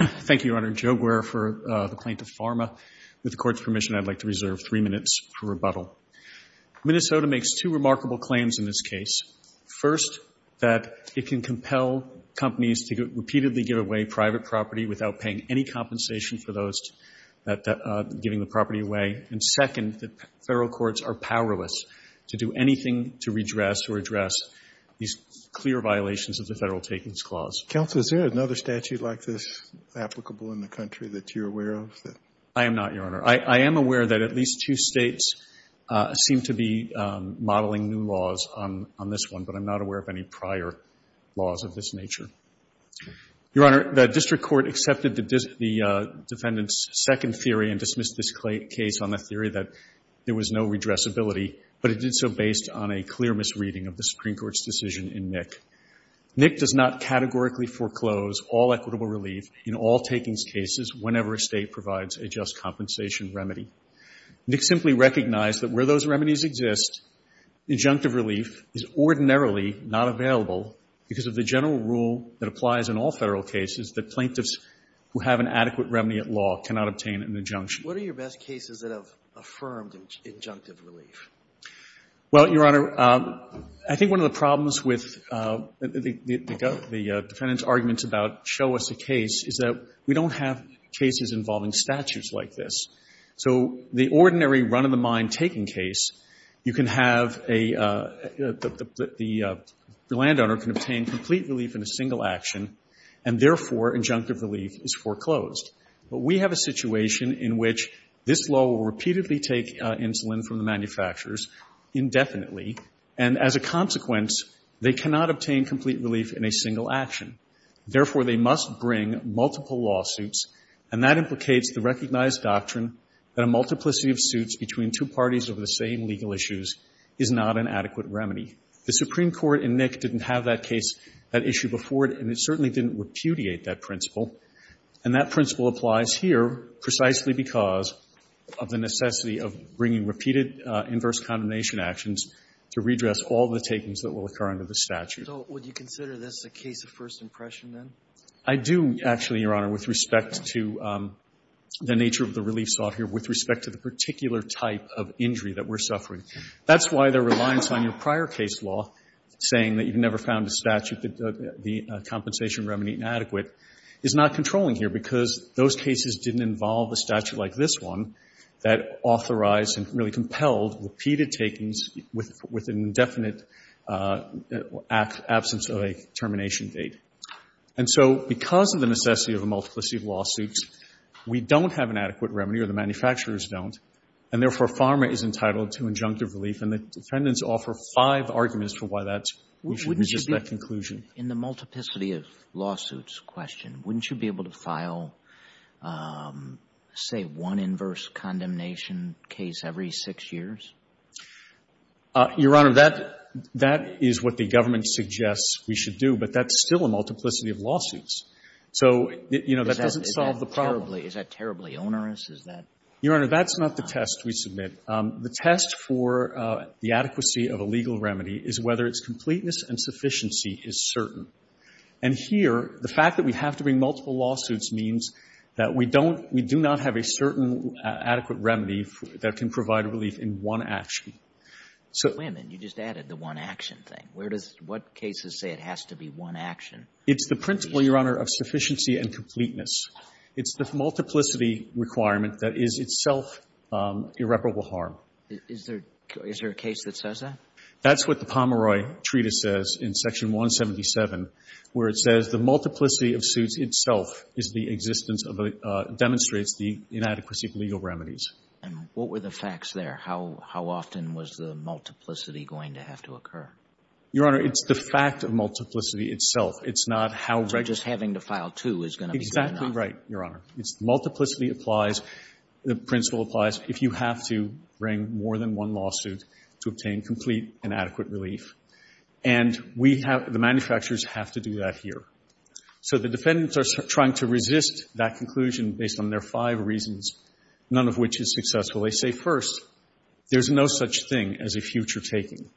Thank you, Your Honor. Joe Guerra for the Plaintiff, Pharma. With the Court's permission, I'd like to reserve three minutes for rebuttal. Minnesota makes two remarkable claims in this case. First, that it can compel companies to repeatedly give away private property without paying any compensation for those giving the property away. And second, that federal courts are powerless to do anything to redress or address these clear violations of the Federal Takings Clause. Counsel, is there another statute like this applicable in the country that you're aware of? I am not, Your Honor. I am aware that at least two states seem to be modeling new laws on this one, but I'm not aware of any prior laws of this nature. Your Honor, the District Court accepted the defendant's second theory and dismissed this case on the theory that there was no redressability, but it did so based on a clear misreading of the Supreme Court's decision in NIC. NIC does not categorically foreclose all equitable relief in all takings cases whenever a state provides a just compensation remedy. NIC simply recognized that where those remedies exist, injunctive relief is ordinarily not available because of the general rule that applies in all Federal cases that plaintiffs who have an adequate remedy at law cannot obtain an injunction. What are your best cases that have affirmed injunctive relief? Well, Your Honor, I think one of the problems with the defendant's arguments about show us a case is that we don't have cases involving statutes like this. So the ordinary run-of-the-mind taking case, you can have the landowner can obtain complete relief in a single action, and therefore injunctive relief is foreclosed. But we have a situation in which this law will repeatedly take insulin from the manufacturers indefinitely, and as a consequence, they cannot obtain complete relief in a single action. Therefore, they must bring multiple lawsuits, and that implicates the recognized doctrine that a multiplicity of suits between two parties over the same legal issues is not an adequate remedy. The Supreme Court in NIC didn't have that case, that issue before it, and it certainly didn't repudiate that principle. And that principle applies here precisely because of the necessity of bringing repeated inverse-condemnation actions to redress all the takings that will occur under the statute. So would you consider this a case of first impression, then? I do, actually, Your Honor, with respect to the nature of the relief sought here, with respect to the particular type of injury that we're suffering. That's why the reliance on your prior case law saying that you've never found a statute that the those cases didn't involve a statute like this one that authorized and really compelled repeated takings with an indefinite absence of a termination date. And so because of the necessity of a multiplicity of lawsuits, we don't have an adequate remedy, or the manufacturers don't, and therefore, PhRMA is entitled to injunctive relief. And the defendants offer five arguments for why that's the conclusion. In the multiplicity of lawsuits question, wouldn't you be able to file, say, one inverse-condemnation case every six years? Your Honor, that is what the government suggests we should do, but that's still a multiplicity of lawsuits. So, you know, that doesn't solve the problem. Is that terribly onerous? Is that? Your Honor, that's not the test we submit. The test for the adequacy of a legal remedy is whether its completeness and sufficiency is certain. And here, the fact that we have to bring multiple lawsuits means that we don't we do not have a certain adequate remedy that can provide relief in one action. So you just added the one-action thing. Where does what cases say it has to be one action? It's the principle, Your Honor, of sufficiency and completeness. It's the multiplicity requirement that is itself irreparable harm. Is there a case that says that? That's what the Pomeroy Treatise says in Section 177, where it says the multiplicity of suits itself is the existence of a demonstrates the inadequacy of legal remedies. And what were the facts there? How often was the multiplicity going to have to occur? Your Honor, it's the fact of multiplicity itself. It's not how regis- So just having to file two is going to be fair enough. Exactly right, Your Honor. It's the multiplicity applies, the principle applies. If you have to bring more than one lawsuit to obtain complete and adequate relief. And we have, the manufacturers have to do that here. So the defendants are trying to resist that conclusion based on their five reasons, none of which is successful. They say, first, there's no such thing as a future taking.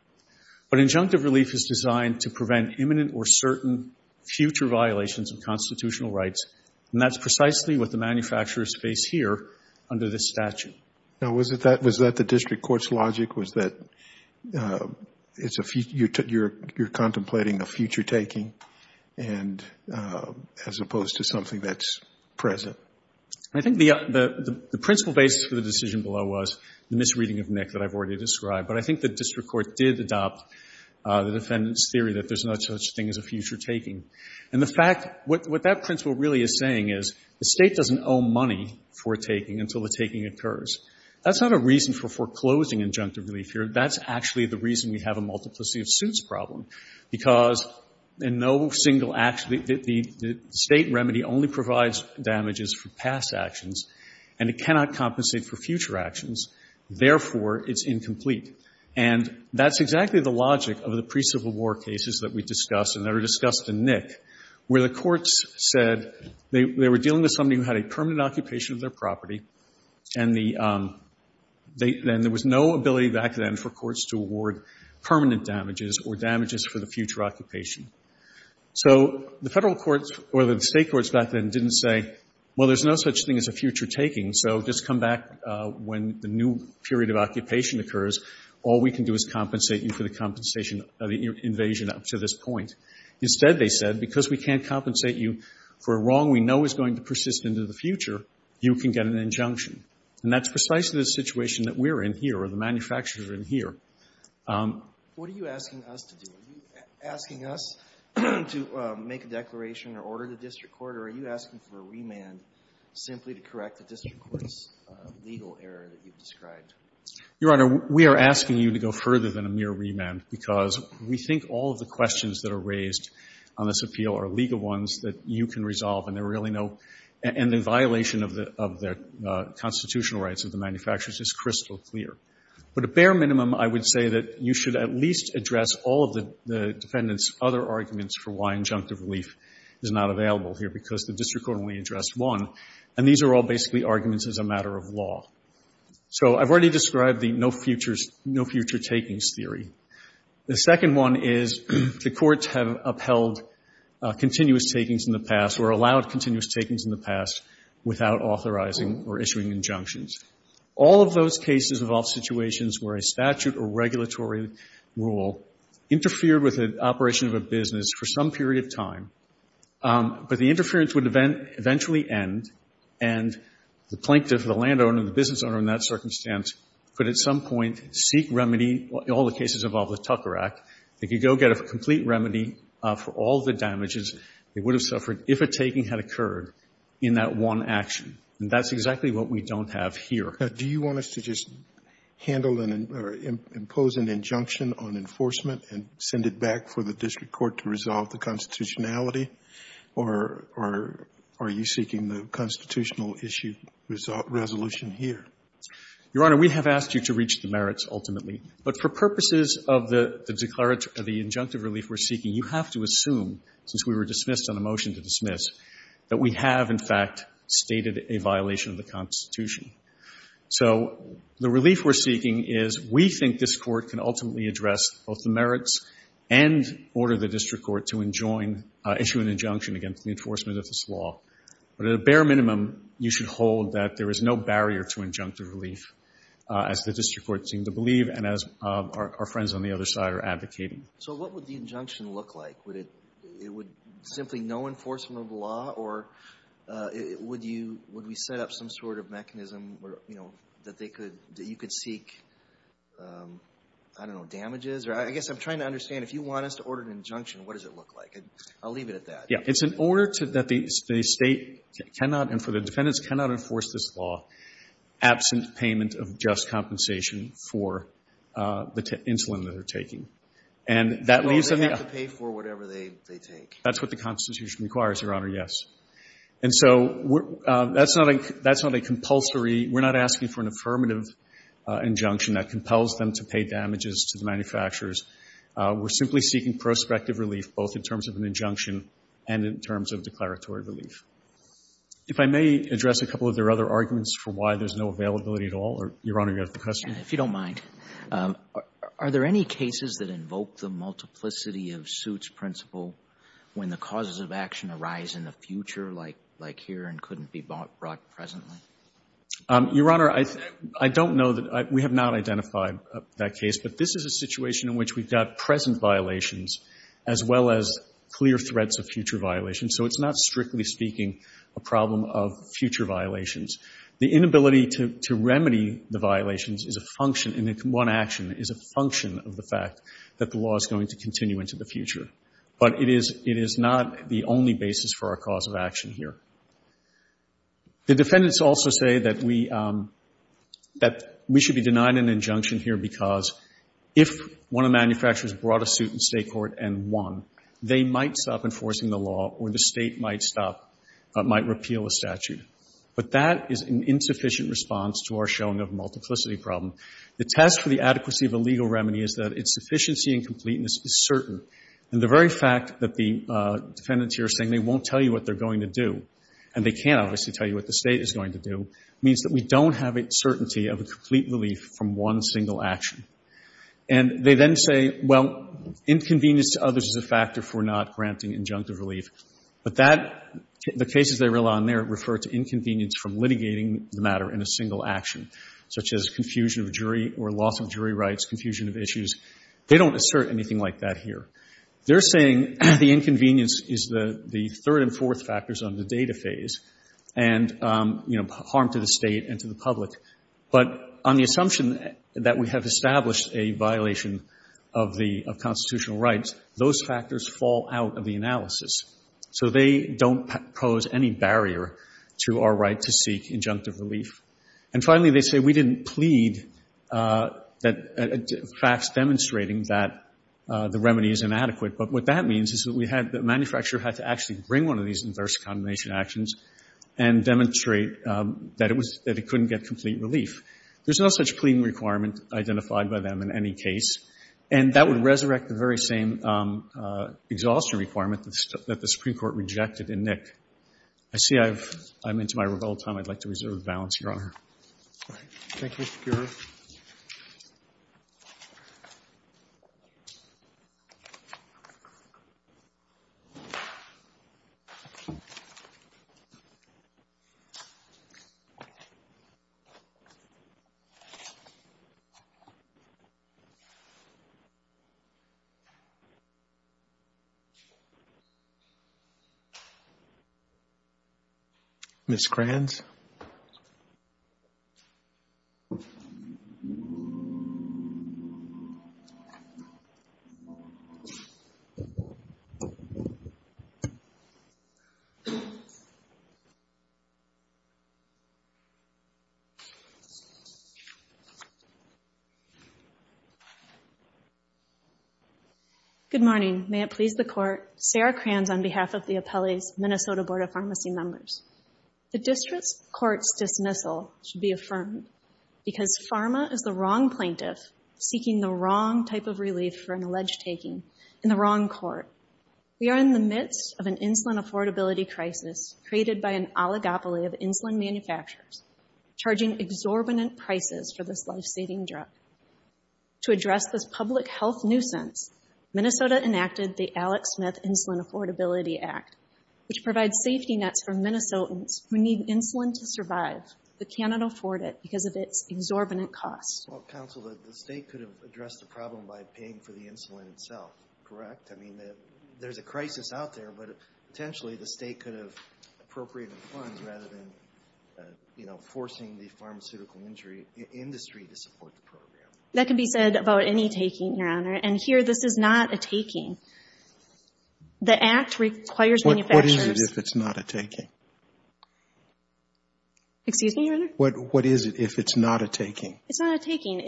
But injunctive relief is designed to prevent imminent or certain future violations of constitutional rights, and that's precisely what the manufacturers face here under this statute. Now, was that the district court's logic? Was that you're contemplating a future taking and as opposed to something that's present? I think the principle basis for the decision below was the misreading of Nick that I've already described, but I think the district court did adopt the defendant's theory that there's no such thing as a future taking. And the fact, what that principle really is saying is the state doesn't owe money for a taking until the taking occurs. That's not a reason for foreclosing injunctive relief here. That's actually the reason we have a multiplicity of suits problem, because in no single act, the state remedy only provides damages for past actions and it cannot compensate for future actions. Therefore, it's incomplete. And that's exactly the logic of the pre-Civil War cases that we discussed and that are discussed in Nick, where the courts said they were dealing with somebody who had a permanent occupation of their property and there was no ability back then for courts to award permanent damages or damages for the future occupation. So the federal courts or the state courts back then didn't say, well, there's no such thing as a future taking, so just come back when the new period of occupation occurs, all we can do is compensate you for the compensation of the invasion up to this point. Instead, they said, because we can't compensate you for a wrong we know is going to persist into the future, you can get an injunction. And that's precisely the situation that we're in here or the manufacturers are in here. What are you asking us to do? Are you asking us to make a declaration or order the district court or are you asking for a remand simply to correct the district court's legal error that you've described? Your Honor, we are asking you to go further than a mere remand, because we think all of the questions that are raised on this appeal are legal ones that you can resolve and there are really no – and the violation of the constitutional rights of the manufacturers is crystal clear. But a bare minimum, I would say that you should at least address all of the defendant's other arguments for why injunctive relief is not available here, because the district court only addressed one. And these are all basically arguments as a matter of law. So I've already described the no future takings theory. The second one is the courts have upheld continuous takings in the past or allowed continuous takings in the past without authorizing or issuing injunctions. All of those cases involve situations where a statute or regulatory rule interfered with an operation of a business for some period of time, but the interference would eventually end and the plaintiff, the landowner, the business owner in that circumstance, could at some point seek remedy – all the cases involve the Tucker Act – they could go get a complete remedy for all the damages they would have suffered if a taking had occurred in that one action. And that's exactly what we don't have here. Do you want us to just handle an – or impose an injunction on enforcement and send it back for the district court to resolve the constitutionality? Or are you seeking the constitutional issue resolution here? Your Honor, we have asked you to reach the merits ultimately. But for purposes of the declarative – of the injunctive relief we're seeking, you have to assume, since we were dismissed on a motion to dismiss, that we have, in fact, stated a violation of the constitution. So the relief we're seeking is we think this court can ultimately address both the merits and order the district court to enjoin – issue an injunction against the enforcement of this law. But at a bare minimum, you should hold that there is no barrier to injunctive relief, as the district court seemed to believe and as our friends on the other side are advocating. So what would the injunction look like? Would it – it would simply no enforcement of the law? Or would you – would we set up some sort of mechanism where, you know, that they could – that you could seek, I don't know, damages? Or I guess I'm trying to understand, if you want us to order an injunction, what does it look like? I'll leave it at that. Yeah. It's an order to – that the state cannot, and for the defendants, cannot enforce this law absent payment of just compensation for the insulin that they're taking. And that leaves them the – Well, they have to pay for whatever they take. That's what the Constitution requires, Your Honor, yes. And so we're – that's not a – that's not a compulsory – we're not asking for an affirmative injunction that compels them to pay damages to the manufacturers. We're simply seeking prospective relief, both in terms of an injunction and in terms of declaratory relief. If I may address a couple of their other arguments for why there's no availability at all. Your Honor, you have the question? If you don't mind. Are there any cases that invoke the multiplicity of suits principle when the causes of action arise in the future, like here, and couldn't be brought presently? Your Honor, I don't know that – we have not identified that case. But this is a situation in which we've got present violations as well as clear threats of future violations. So it's not, strictly speaking, a problem of future violations. The inability to remedy the violations is a function – and one action is a function of the fact that the law is going to continue into the future. But it is – it is not the only basis for our cause of action here. The defendants also say that we – that we should be denied an injunction here because if one of the manufacturers brought a suit in state court and won, they might stop enforcing the law or the state might stop – might repeal a statute. But that is an insufficient response to our showing of a multiplicity problem. The test for the adequacy of a legal remedy is that its sufficiency and completeness is certain. And the very fact that the defendants here are saying they won't tell you what they're going to do – and they can't, obviously, tell you what the state is going to do – means that we don't have a certainty of a complete relief from one single action. And they then say, well, inconvenience to others is a factor for not granting injunctive relief. But that – the cases they rely on there refer to inconvenience from litigating the matter in a single action, such as confusion of jury or loss of jury rights, confusion of issues. They don't assert anything like that here. They're saying the inconvenience is the third and fourth factors on the data phase and, you know, harm to the state and to the public. But on the assumption that we have established a violation of the – of constitutional rights, those factors fall out of the analysis. So they don't pose any barrier to our right to seek injunctive relief. And finally, they say we didn't plead that – facts demonstrating that the remedy is inadequate. But what that means is that we had – the manufacturer had to actually bring one of these adverse condemnation actions and demonstrate that it was – that it couldn't get complete relief. There's no such pleading requirement identified by them in any case. And that would resurrect the very same exhaustion requirement that the Supreme Court rejected in Nick. I see I've – I'm into my revolved time. I'd like to reserve the balance here, Your Honor. Thank you, Mr. Giroir. Ms. Kranz? Ms. Kranz? Good morning. May it please the Court. Sarah Kranz on behalf of the appellee's Minnesota Board of Pharmacy members. The district court's dismissal should be affirmed because pharma is the wrong plaintiff seeking the wrong type of relief for an alleged taking in the wrong court. We are in the midst of an insulin affordability crisis created by an oligopoly of insulin manufacturers charging exorbitant prices for this life-saving drug. To address this public health nuisance, Minnesota enacted the Alex Smith Insulin Affordability Act, which provides safety nets for Minnesotans who need insulin to survive but cannot afford it because of its exorbitant costs. Well, counsel, the state could have addressed the problem by paying for the insulin itself, correct? I mean, there's a crisis out there, but potentially the state could have appropriated funds rather than, you know, forcing the pharmaceutical industry to support the program. That can be said about any taking, Your Honor. And here, this is not a taking. The Act requires manufacturers... What is it if it's not a taking? Excuse me, Your Honor? What is it if it's not a taking? It's not a taking.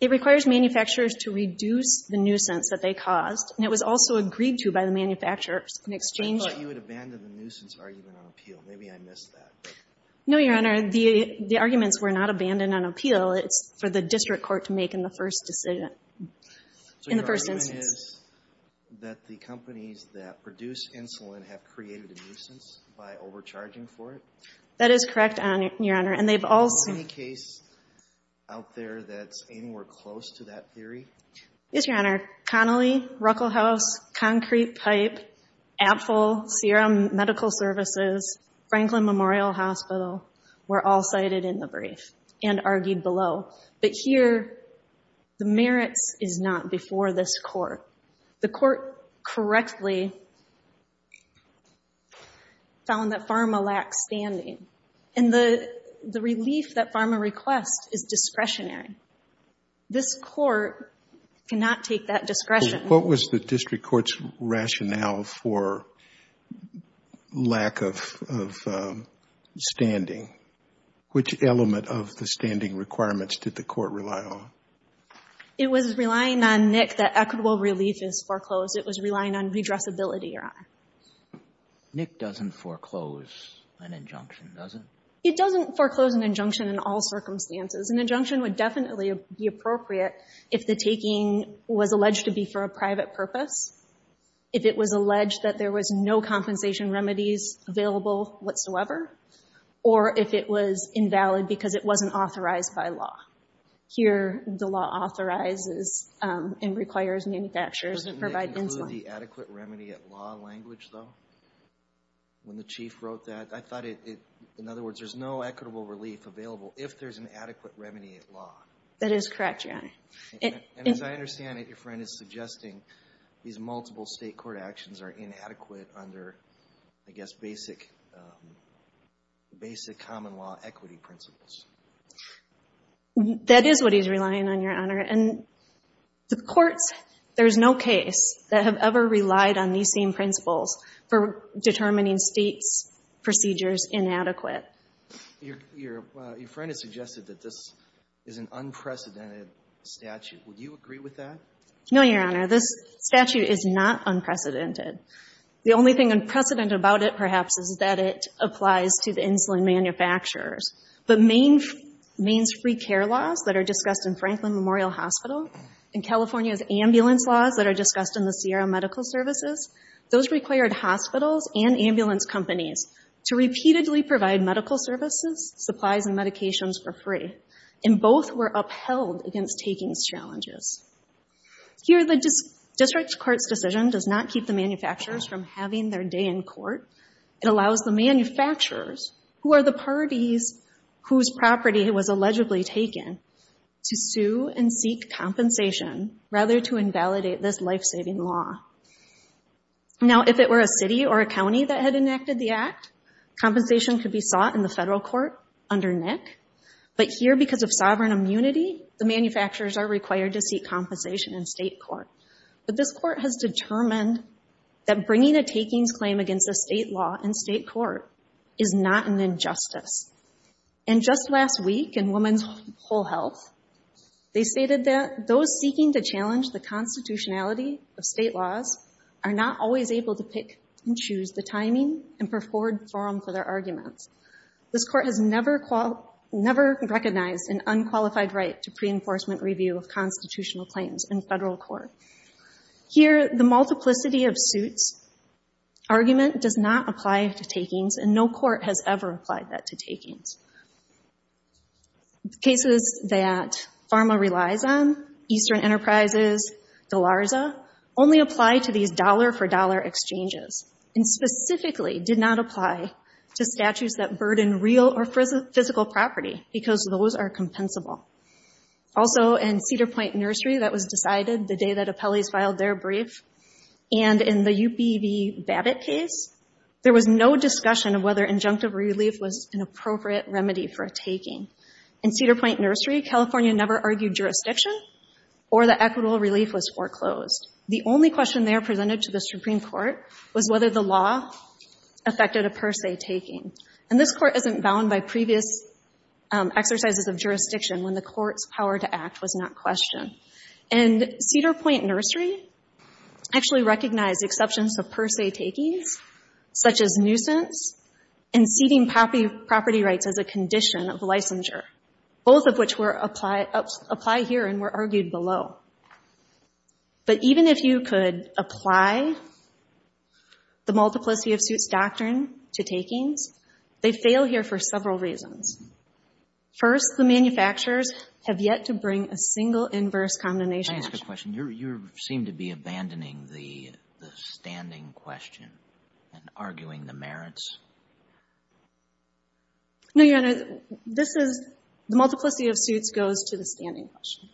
It requires manufacturers to reduce the nuisance that they caused, and it was also agreed to by the manufacturers in exchange for... I thought you had abandoned the nuisance argument on appeal. Maybe I missed that. No, Your Honor. The arguments were not abandoned on appeal. It's for the district court to make in the first decision, in the first instance. The point is that the companies that produce insulin have created a nuisance by overcharging for it? That is correct, Your Honor. And they've also... Is there any case out there that's anywhere close to that theory? Yes, Your Honor. Connelly, Ruckelhaus, Concrete Pipe, Apfel, Sierra Medical Services, Franklin Memorial Hospital were all cited in the brief and argued below. But here, the merits is not before this court. The court correctly found that pharma lacks standing. And the relief that pharma requests is discretionary. This court cannot take that discretion. What was the district court's rationale for lack of standing? Which element of the standing requirements did the court rely on? It was relying on, Nick, that equitable relief is foreclosed. It was relying on redressability, Your Honor. Nick doesn't foreclose an injunction, does he? He doesn't foreclose an injunction in all circumstances. An injunction would definitely be appropriate if the taking was alleged to be for a private purpose, if it was alleged that there was no compensation remedies available whatsoever, or if it was invalid because it wasn't authorized by law. Here, the law authorizes and requires manufacturers to provide insulin. Doesn't that include the adequate remedy at law language, though? When the chief wrote that, I thought it, in other words, there's no equitable relief available if there's an adequate remedy at law. That is correct, Your Honor. And as I understand it, your friend is suggesting these multiple state court actions are the basic common law equity principles. That is what he's relying on, Your Honor. And the courts, there's no case that have ever relied on these same principles for determining states' procedures inadequate. Your friend has suggested that this is an unprecedented statute. Would you agree with that? No, Your Honor. This statute is not unprecedented. The only thing unprecedented about it, perhaps, is that it applies to the insulin manufacturers. But Maine's free care laws that are discussed in Franklin Memorial Hospital and California's ambulance laws that are discussed in the Sierra Medical Services, those required hospitals and ambulance companies to repeatedly provide medical services, supplies, and medications for free. And both were upheld against takings challenges. Here, the district court's decision does not keep the manufacturers from having their day in court. It allows the manufacturers, who are the parties whose property was allegedly taken, to sue and seek compensation rather to invalidate this life-saving law. Now, if it were a city or a county that had enacted the act, compensation could be sought in the federal court under NIC. But here, because of sovereign immunity, the manufacturers are required to seek compensation in state court. But this court has determined that bringing a takings claim against a state law in state court is not an injustice. And just last week in Women's Whole Health, they stated that those seeking to challenge the constitutionality of state laws are not always able to pick and choose the timing and preferred forum for their arguments. This court has never recognized an unqualified right to pre-enforcement review of constitutional claims in federal court. Here, the multiplicity of suits argument does not apply to takings, and no court has ever applied that to takings. Cases that PhRMA relies on, Eastern Enterprises, DeLarza, only apply to these dollar-for-dollar exchanges and specifically did not apply to statutes that burden real or physical property because those are compensable. Also, in Cedar Point Nursery, that was decided the day that appellees filed their brief. And in the UPV Babbitt case, there was no discussion of whether injunctive relief was an appropriate remedy for a taking. In Cedar Point Nursery, California never argued jurisdiction, or the equitable relief was foreclosed. The only question there presented to the Supreme Court was whether the law affected a per se taking. And this court isn't bound by previous exercises of jurisdiction when the court's power to act was not questioned. And Cedar Point Nursery actually recognized exceptions to per se takings, such as nuisance and ceding property rights as a condition of licensure, both of which apply here and were argued below. But even if you could apply the multiplicity of suits doctrine to takings, they fail here for several reasons. First, the manufacturers have yet to bring a single inverse condemnation question. Can I ask a question? You seem to be abandoning the standing question and arguing the merits. No, Your Honor. The multiplicity of suits goes to the standing question.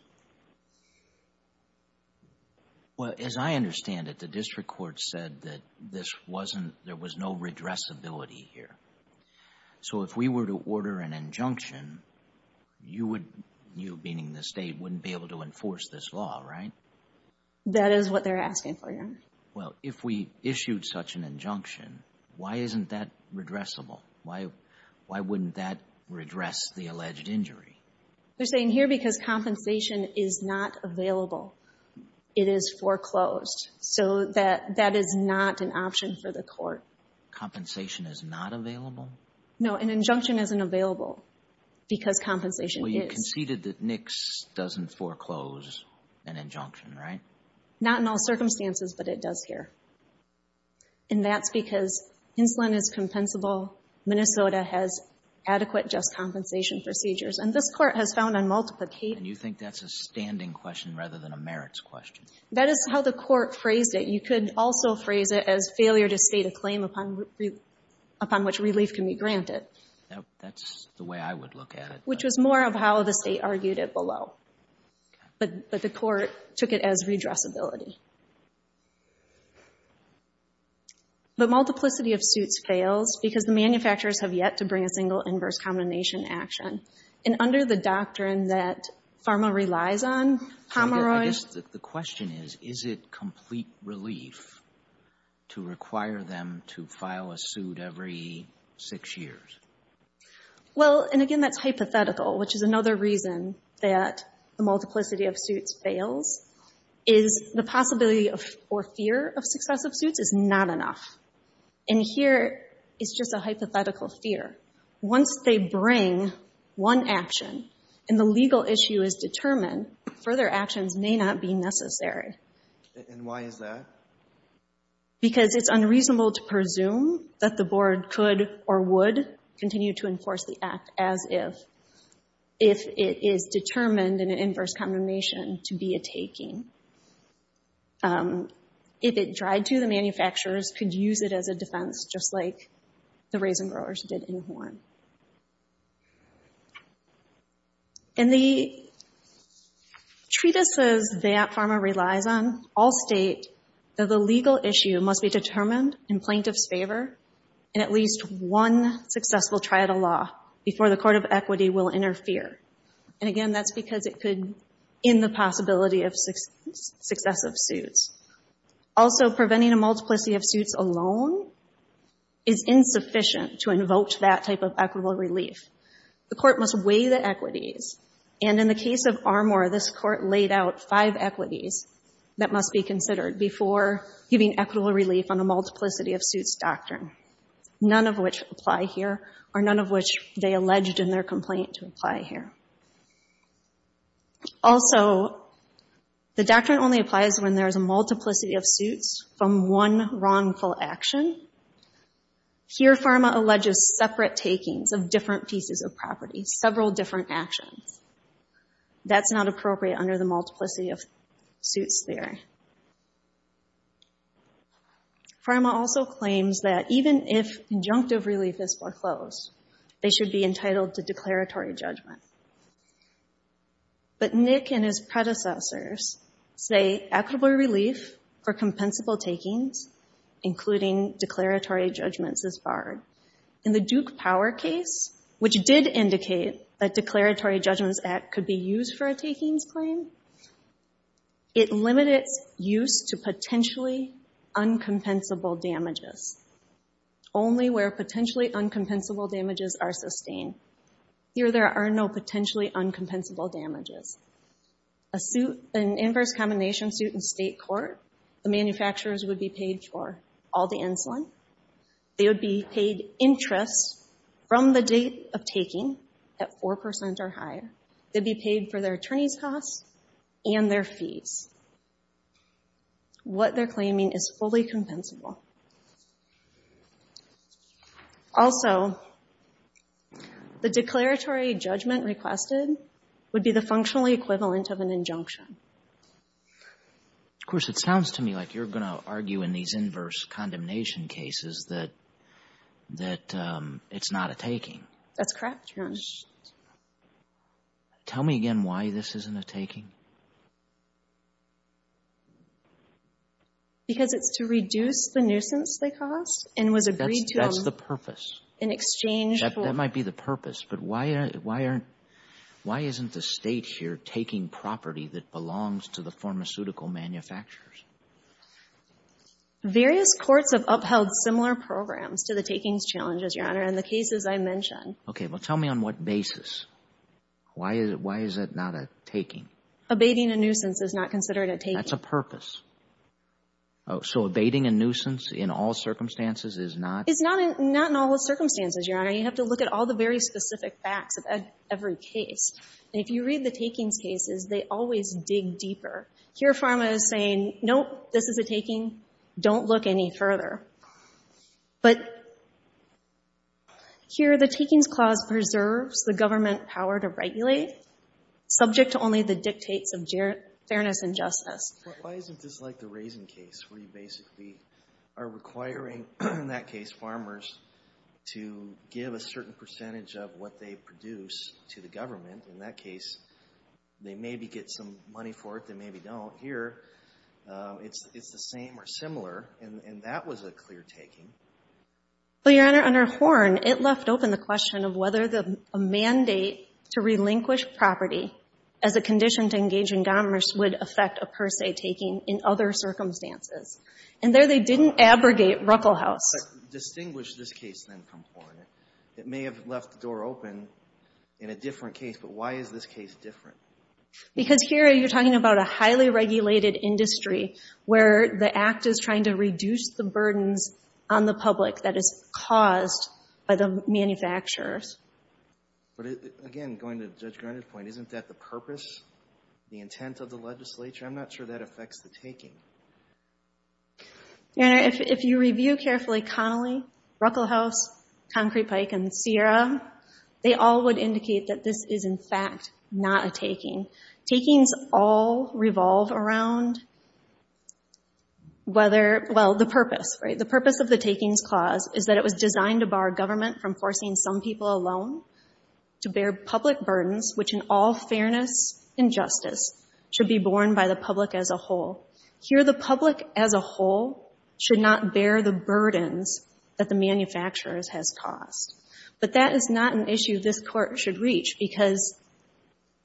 Well, as I understand it, the district court said that there was no redressability here. So if we were to order an injunction, you, meaning the State, wouldn't be able to enforce this law, right? That is what they're asking for, Your Honor. Well, if we issued such an injunction, why isn't that redressable? Why wouldn't that redress the alleged injury? They're saying here because compensation is not available. It is foreclosed. So that is not an option for the court. Compensation is not available? No, an injunction isn't available because compensation is. Well, you conceded that NICS doesn't foreclose an injunction, right? Not in all circumstances, but it does here. And that's because insulin is compensable. Minnesota has adequate just compensation procedures. And this Court has found on multiple cases. And you think that's a standing question rather than a merits question? That is how the Court phrased it. You could also phrase it as failure to state a claim upon which relief can be granted. That's the way I would look at it. Which was more of how the State argued it below. But the Court took it as redressability. But multiplicity of suits fails because the manufacturers have yet to bring a single inverse combination action. And under the doctrine that pharma relies on, Pomeroy I guess the question is, is it complete relief to require them to file a suit every six years? Well, and again, that's hypothetical, which is another reason that the multiplicity of suits fails. The possibility or fear of successive suits is not enough. And here it's just a hypothetical fear. Once they bring one action and the legal issue is determined, further actions may not be necessary. And why is that? Because it's unreasonable to presume that the Board could or would continue to enforce the Act as if it is determined in an inverse combination to be a taking. If it tried to, the manufacturers could use it as a defense, just like the raisin growers did in Horn. And the treatises that pharma relies on all state that the legal issue must be determined in plaintiff's favor in at least one successful triadal law before the Court of Equity will interfere. And again, that's because it could end the possibility of successive suits. Also, preventing a multiplicity of suits alone is insufficient to invoke that type of equitable relief. The Court must weigh the equities. And in the case of Armour, this Court laid out five equities that must be considered before giving equitable relief on a multiplicity of suits doctrine, none of which apply here, or none of which they alleged in their complaint to apply here. Also, the doctrine only applies when there is a multiplicity of suits from one wrongful action. Here, pharma alleges separate takings of different pieces of property, several different actions. That's not appropriate under the multiplicity of suits theory. Pharma also claims that even if injunctive relief is foreclosed, they should be entitled to declaratory judgment. But Nick and his predecessors say equitable relief for compensable takings, including declaratory judgments, is barred. In the Duke Power case, which did indicate that declaratory judgments act could be used for a takings claim, it limited its use to potentially uncompensable damages. Only where potentially uncompensable damages are sustained. Here, there are no potentially uncompensable damages. An inverse combination suit in state court, the manufacturers would be paid for all the insulin. They would be paid interest from the date of taking at 4% or higher. They'd be paid for their attorney's costs and their fees. What they're claiming is fully compensable. Also, the declaratory judgment requested would be the functionally equivalent of an injunction. Of course, it sounds to me like you're going to argue in these inverse condemnation cases that it's not a taking. That's correct, Your Honor. Tell me again why this isn't a taking. Because it's to reduce the nuisance they caused and was agreed to them. That's the purpose. In exchange for. That might be the purpose, but why aren't, why isn't the state here taking property that belongs to the pharmaceutical manufacturers? Various courts have upheld similar programs to the takings challenges, Your Honor, in the cases I mentioned. Okay, well tell me on what basis. Why is it not a taking? Abating a nuisance is not considered a taking. That's a purpose. So abating a nuisance in all circumstances is not. It's not in all circumstances, Your Honor. You have to look at all the very specific facts of every case. And if you read the takings cases, they always dig deeper. Here, Pharma is saying, nope, this is a taking. Don't look any further. But here, the takings clause preserves the government power to regulate, subject to only the dictates of fairness and justice. Why isn't this like the raisin case, where you basically are requiring, in that case, farmers to give a certain percentage of what they produce to the government? In that case, they maybe get some money for it, they maybe don't. Here, it's the same or similar. And that was a clear taking. Well, Your Honor, under Horn, it left open the question of whether a mandate to relinquish property as a condition to engage in commerce would affect a per se taking in other circumstances. And there, they didn't abrogate Ruckelhaus. Distinguish this case, then, from Horn. It may have left the door open in a different case, but why is this case different? Because here, you're talking about a highly regulated industry where the Act is trying to reduce the burdens on the public that is caused by the manufacturers. But again, going to Judge Garnett's point, isn't that the purpose, the intent of the legislature? I'm not sure that affects the taking. Your Honor, if you review carefully Connolly, Ruckelhaus, Concrete Pike, and Sierra, they all would indicate that this is, in fact, not a taking. Takings all revolve around whether, well, the purpose, right? The purpose of the Takings Clause is that it was designed to bar government from forcing some people alone to bear public burdens, which in all fairness and justice should be borne by the public as a whole. Here, the public as a whole should not bear the burdens that the manufacturers has caused. But that is not an issue this Court should reach because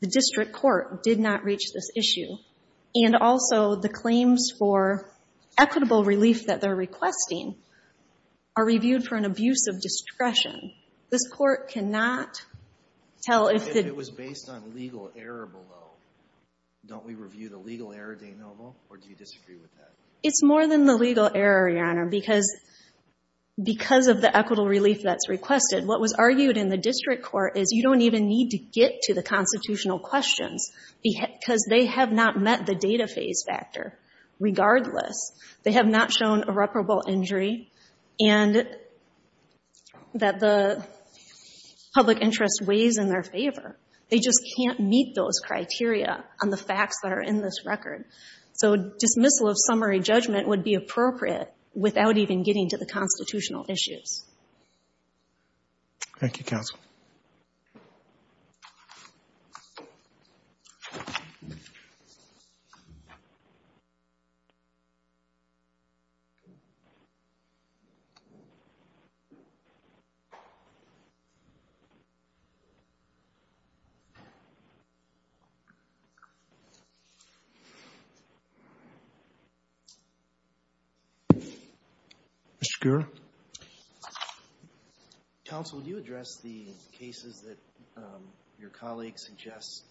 the District Court did not reach this issue. And also, the claims for equitable relief that they're requesting are reviewed for an abuse of discretion. This Court cannot tell if the... If it was based on legal error below, don't we review the legal error, Dana Noble, or do you disagree with that? It's more than the legal error, Your Honor, because of the equitable relief that's requested. What was argued in the District Court is you don't even need to get to the constitutional questions because they have not met the data phase factor regardless. They have not shown irreparable injury and that the public interest weighs in their favor. They just can't meet those criteria on the facts that are in this record. So dismissal of summary judgment would be appropriate without even getting to the constitutional issues. Mr. Gura. Counsel, would you address the cases that your colleague suggests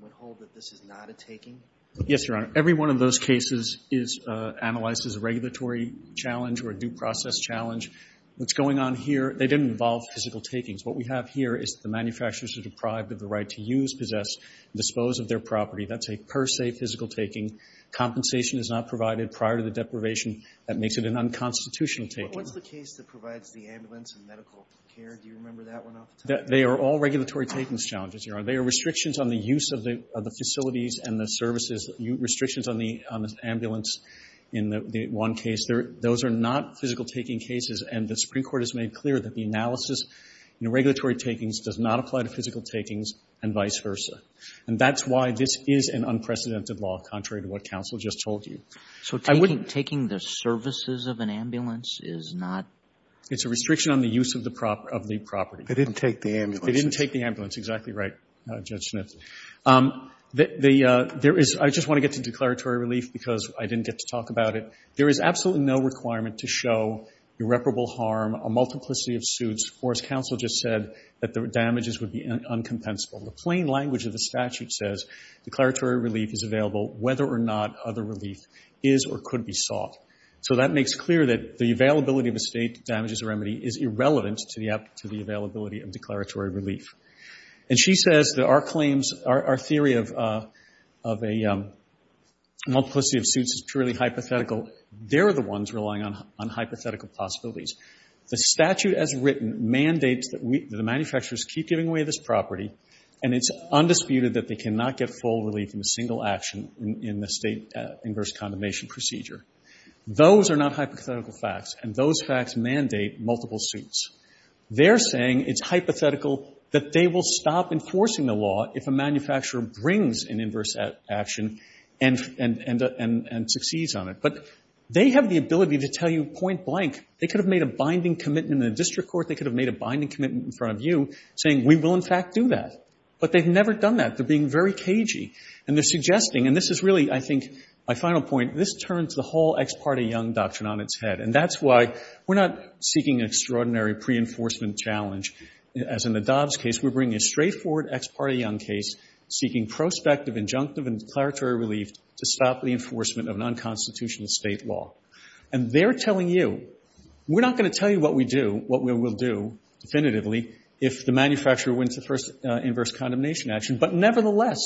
would hold that this is not a taking? Yes, Your Honor. Every one of those cases is analyzed as a regulatory challenge or a due process challenge. What's going on here, they didn't involve physical takings. What we have here is the manufacturers are deprived of the right to use, possess, and dispose of their property. That's a per se physical taking. Compensation is not provided prior to the deprivation. That makes it an unconstitutional taking. What's the case that provides the ambulance and medical care? Do you remember that one off the top of your head? They are all regulatory takings challenges, Your Honor. They are restrictions on the use of the facilities and the services, restrictions on the ambulance in the one case. Those are not physical taking cases, and the Supreme Court has made clear that the analysis in regulatory takings does not apply to physical takings and vice versa. And that's why this is an unprecedented law, contrary to what counsel just told you. So taking the services of an ambulance is not? It's a restriction on the use of the property. They didn't take the ambulance. They didn't take the ambulance. Exactly right, Judge Schnitzer. I just want to get to declaratory relief because I didn't get to talk about it. There is absolutely no requirement to show irreparable harm, a multiplicity of suits, or as counsel just said, that the damages would be uncompensable. The plain language of the statute says declaratory relief is available whether or not other relief is or could be sought. So that makes clear that the availability of a state damages remedy is irrelevant to the availability of declaratory relief. And she says that our claims, our theory of a multiplicity of suits is purely hypothetical. They're the ones relying on hypothetical possibilities. The statute as written mandates that the manufacturers keep giving away this property, and it's undisputed that they cannot get full relief in a single action in the state inverse condemnation procedure. Those are not hypothetical facts, and those facts mandate multiple suits. They're saying it's hypothetical that they will stop enforcing the law if a manufacturer brings an inverse action and succeeds on it. But they have the ability to tell you point blank. They could have made a binding commitment in a district court. They could have made a binding commitment in front of you, saying we will, in fact, do that. But they've never done that. They're being very cagey, and they're suggesting, and this is really, I think, my final point. This turns the whole ex parte Young doctrine on its head, and that's why we're not seeking an extraordinary pre-enforcement challenge. As in the Dobbs case, we're bringing a straightforward ex parte Young case seeking prospective, injunctive, and declaratory relief to stop the enforcement of non-constitutional state law. And they're telling you, we're not going to tell you what we do, what we will do definitively, if the manufacturer wins the first inverse condemnation action. But nevertheless,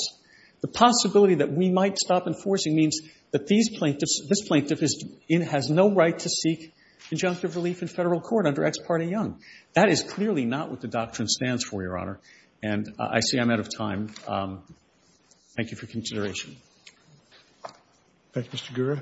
the possibility that we might stop enforcing means that these plaintiffs, this plaintiff has no right to seek injunctive relief in Federal court under ex parte Young. That is clearly not what the doctrine stands for, Your Honor. And I see I'm out of time. Thank you for consideration. Roberts. Roberts.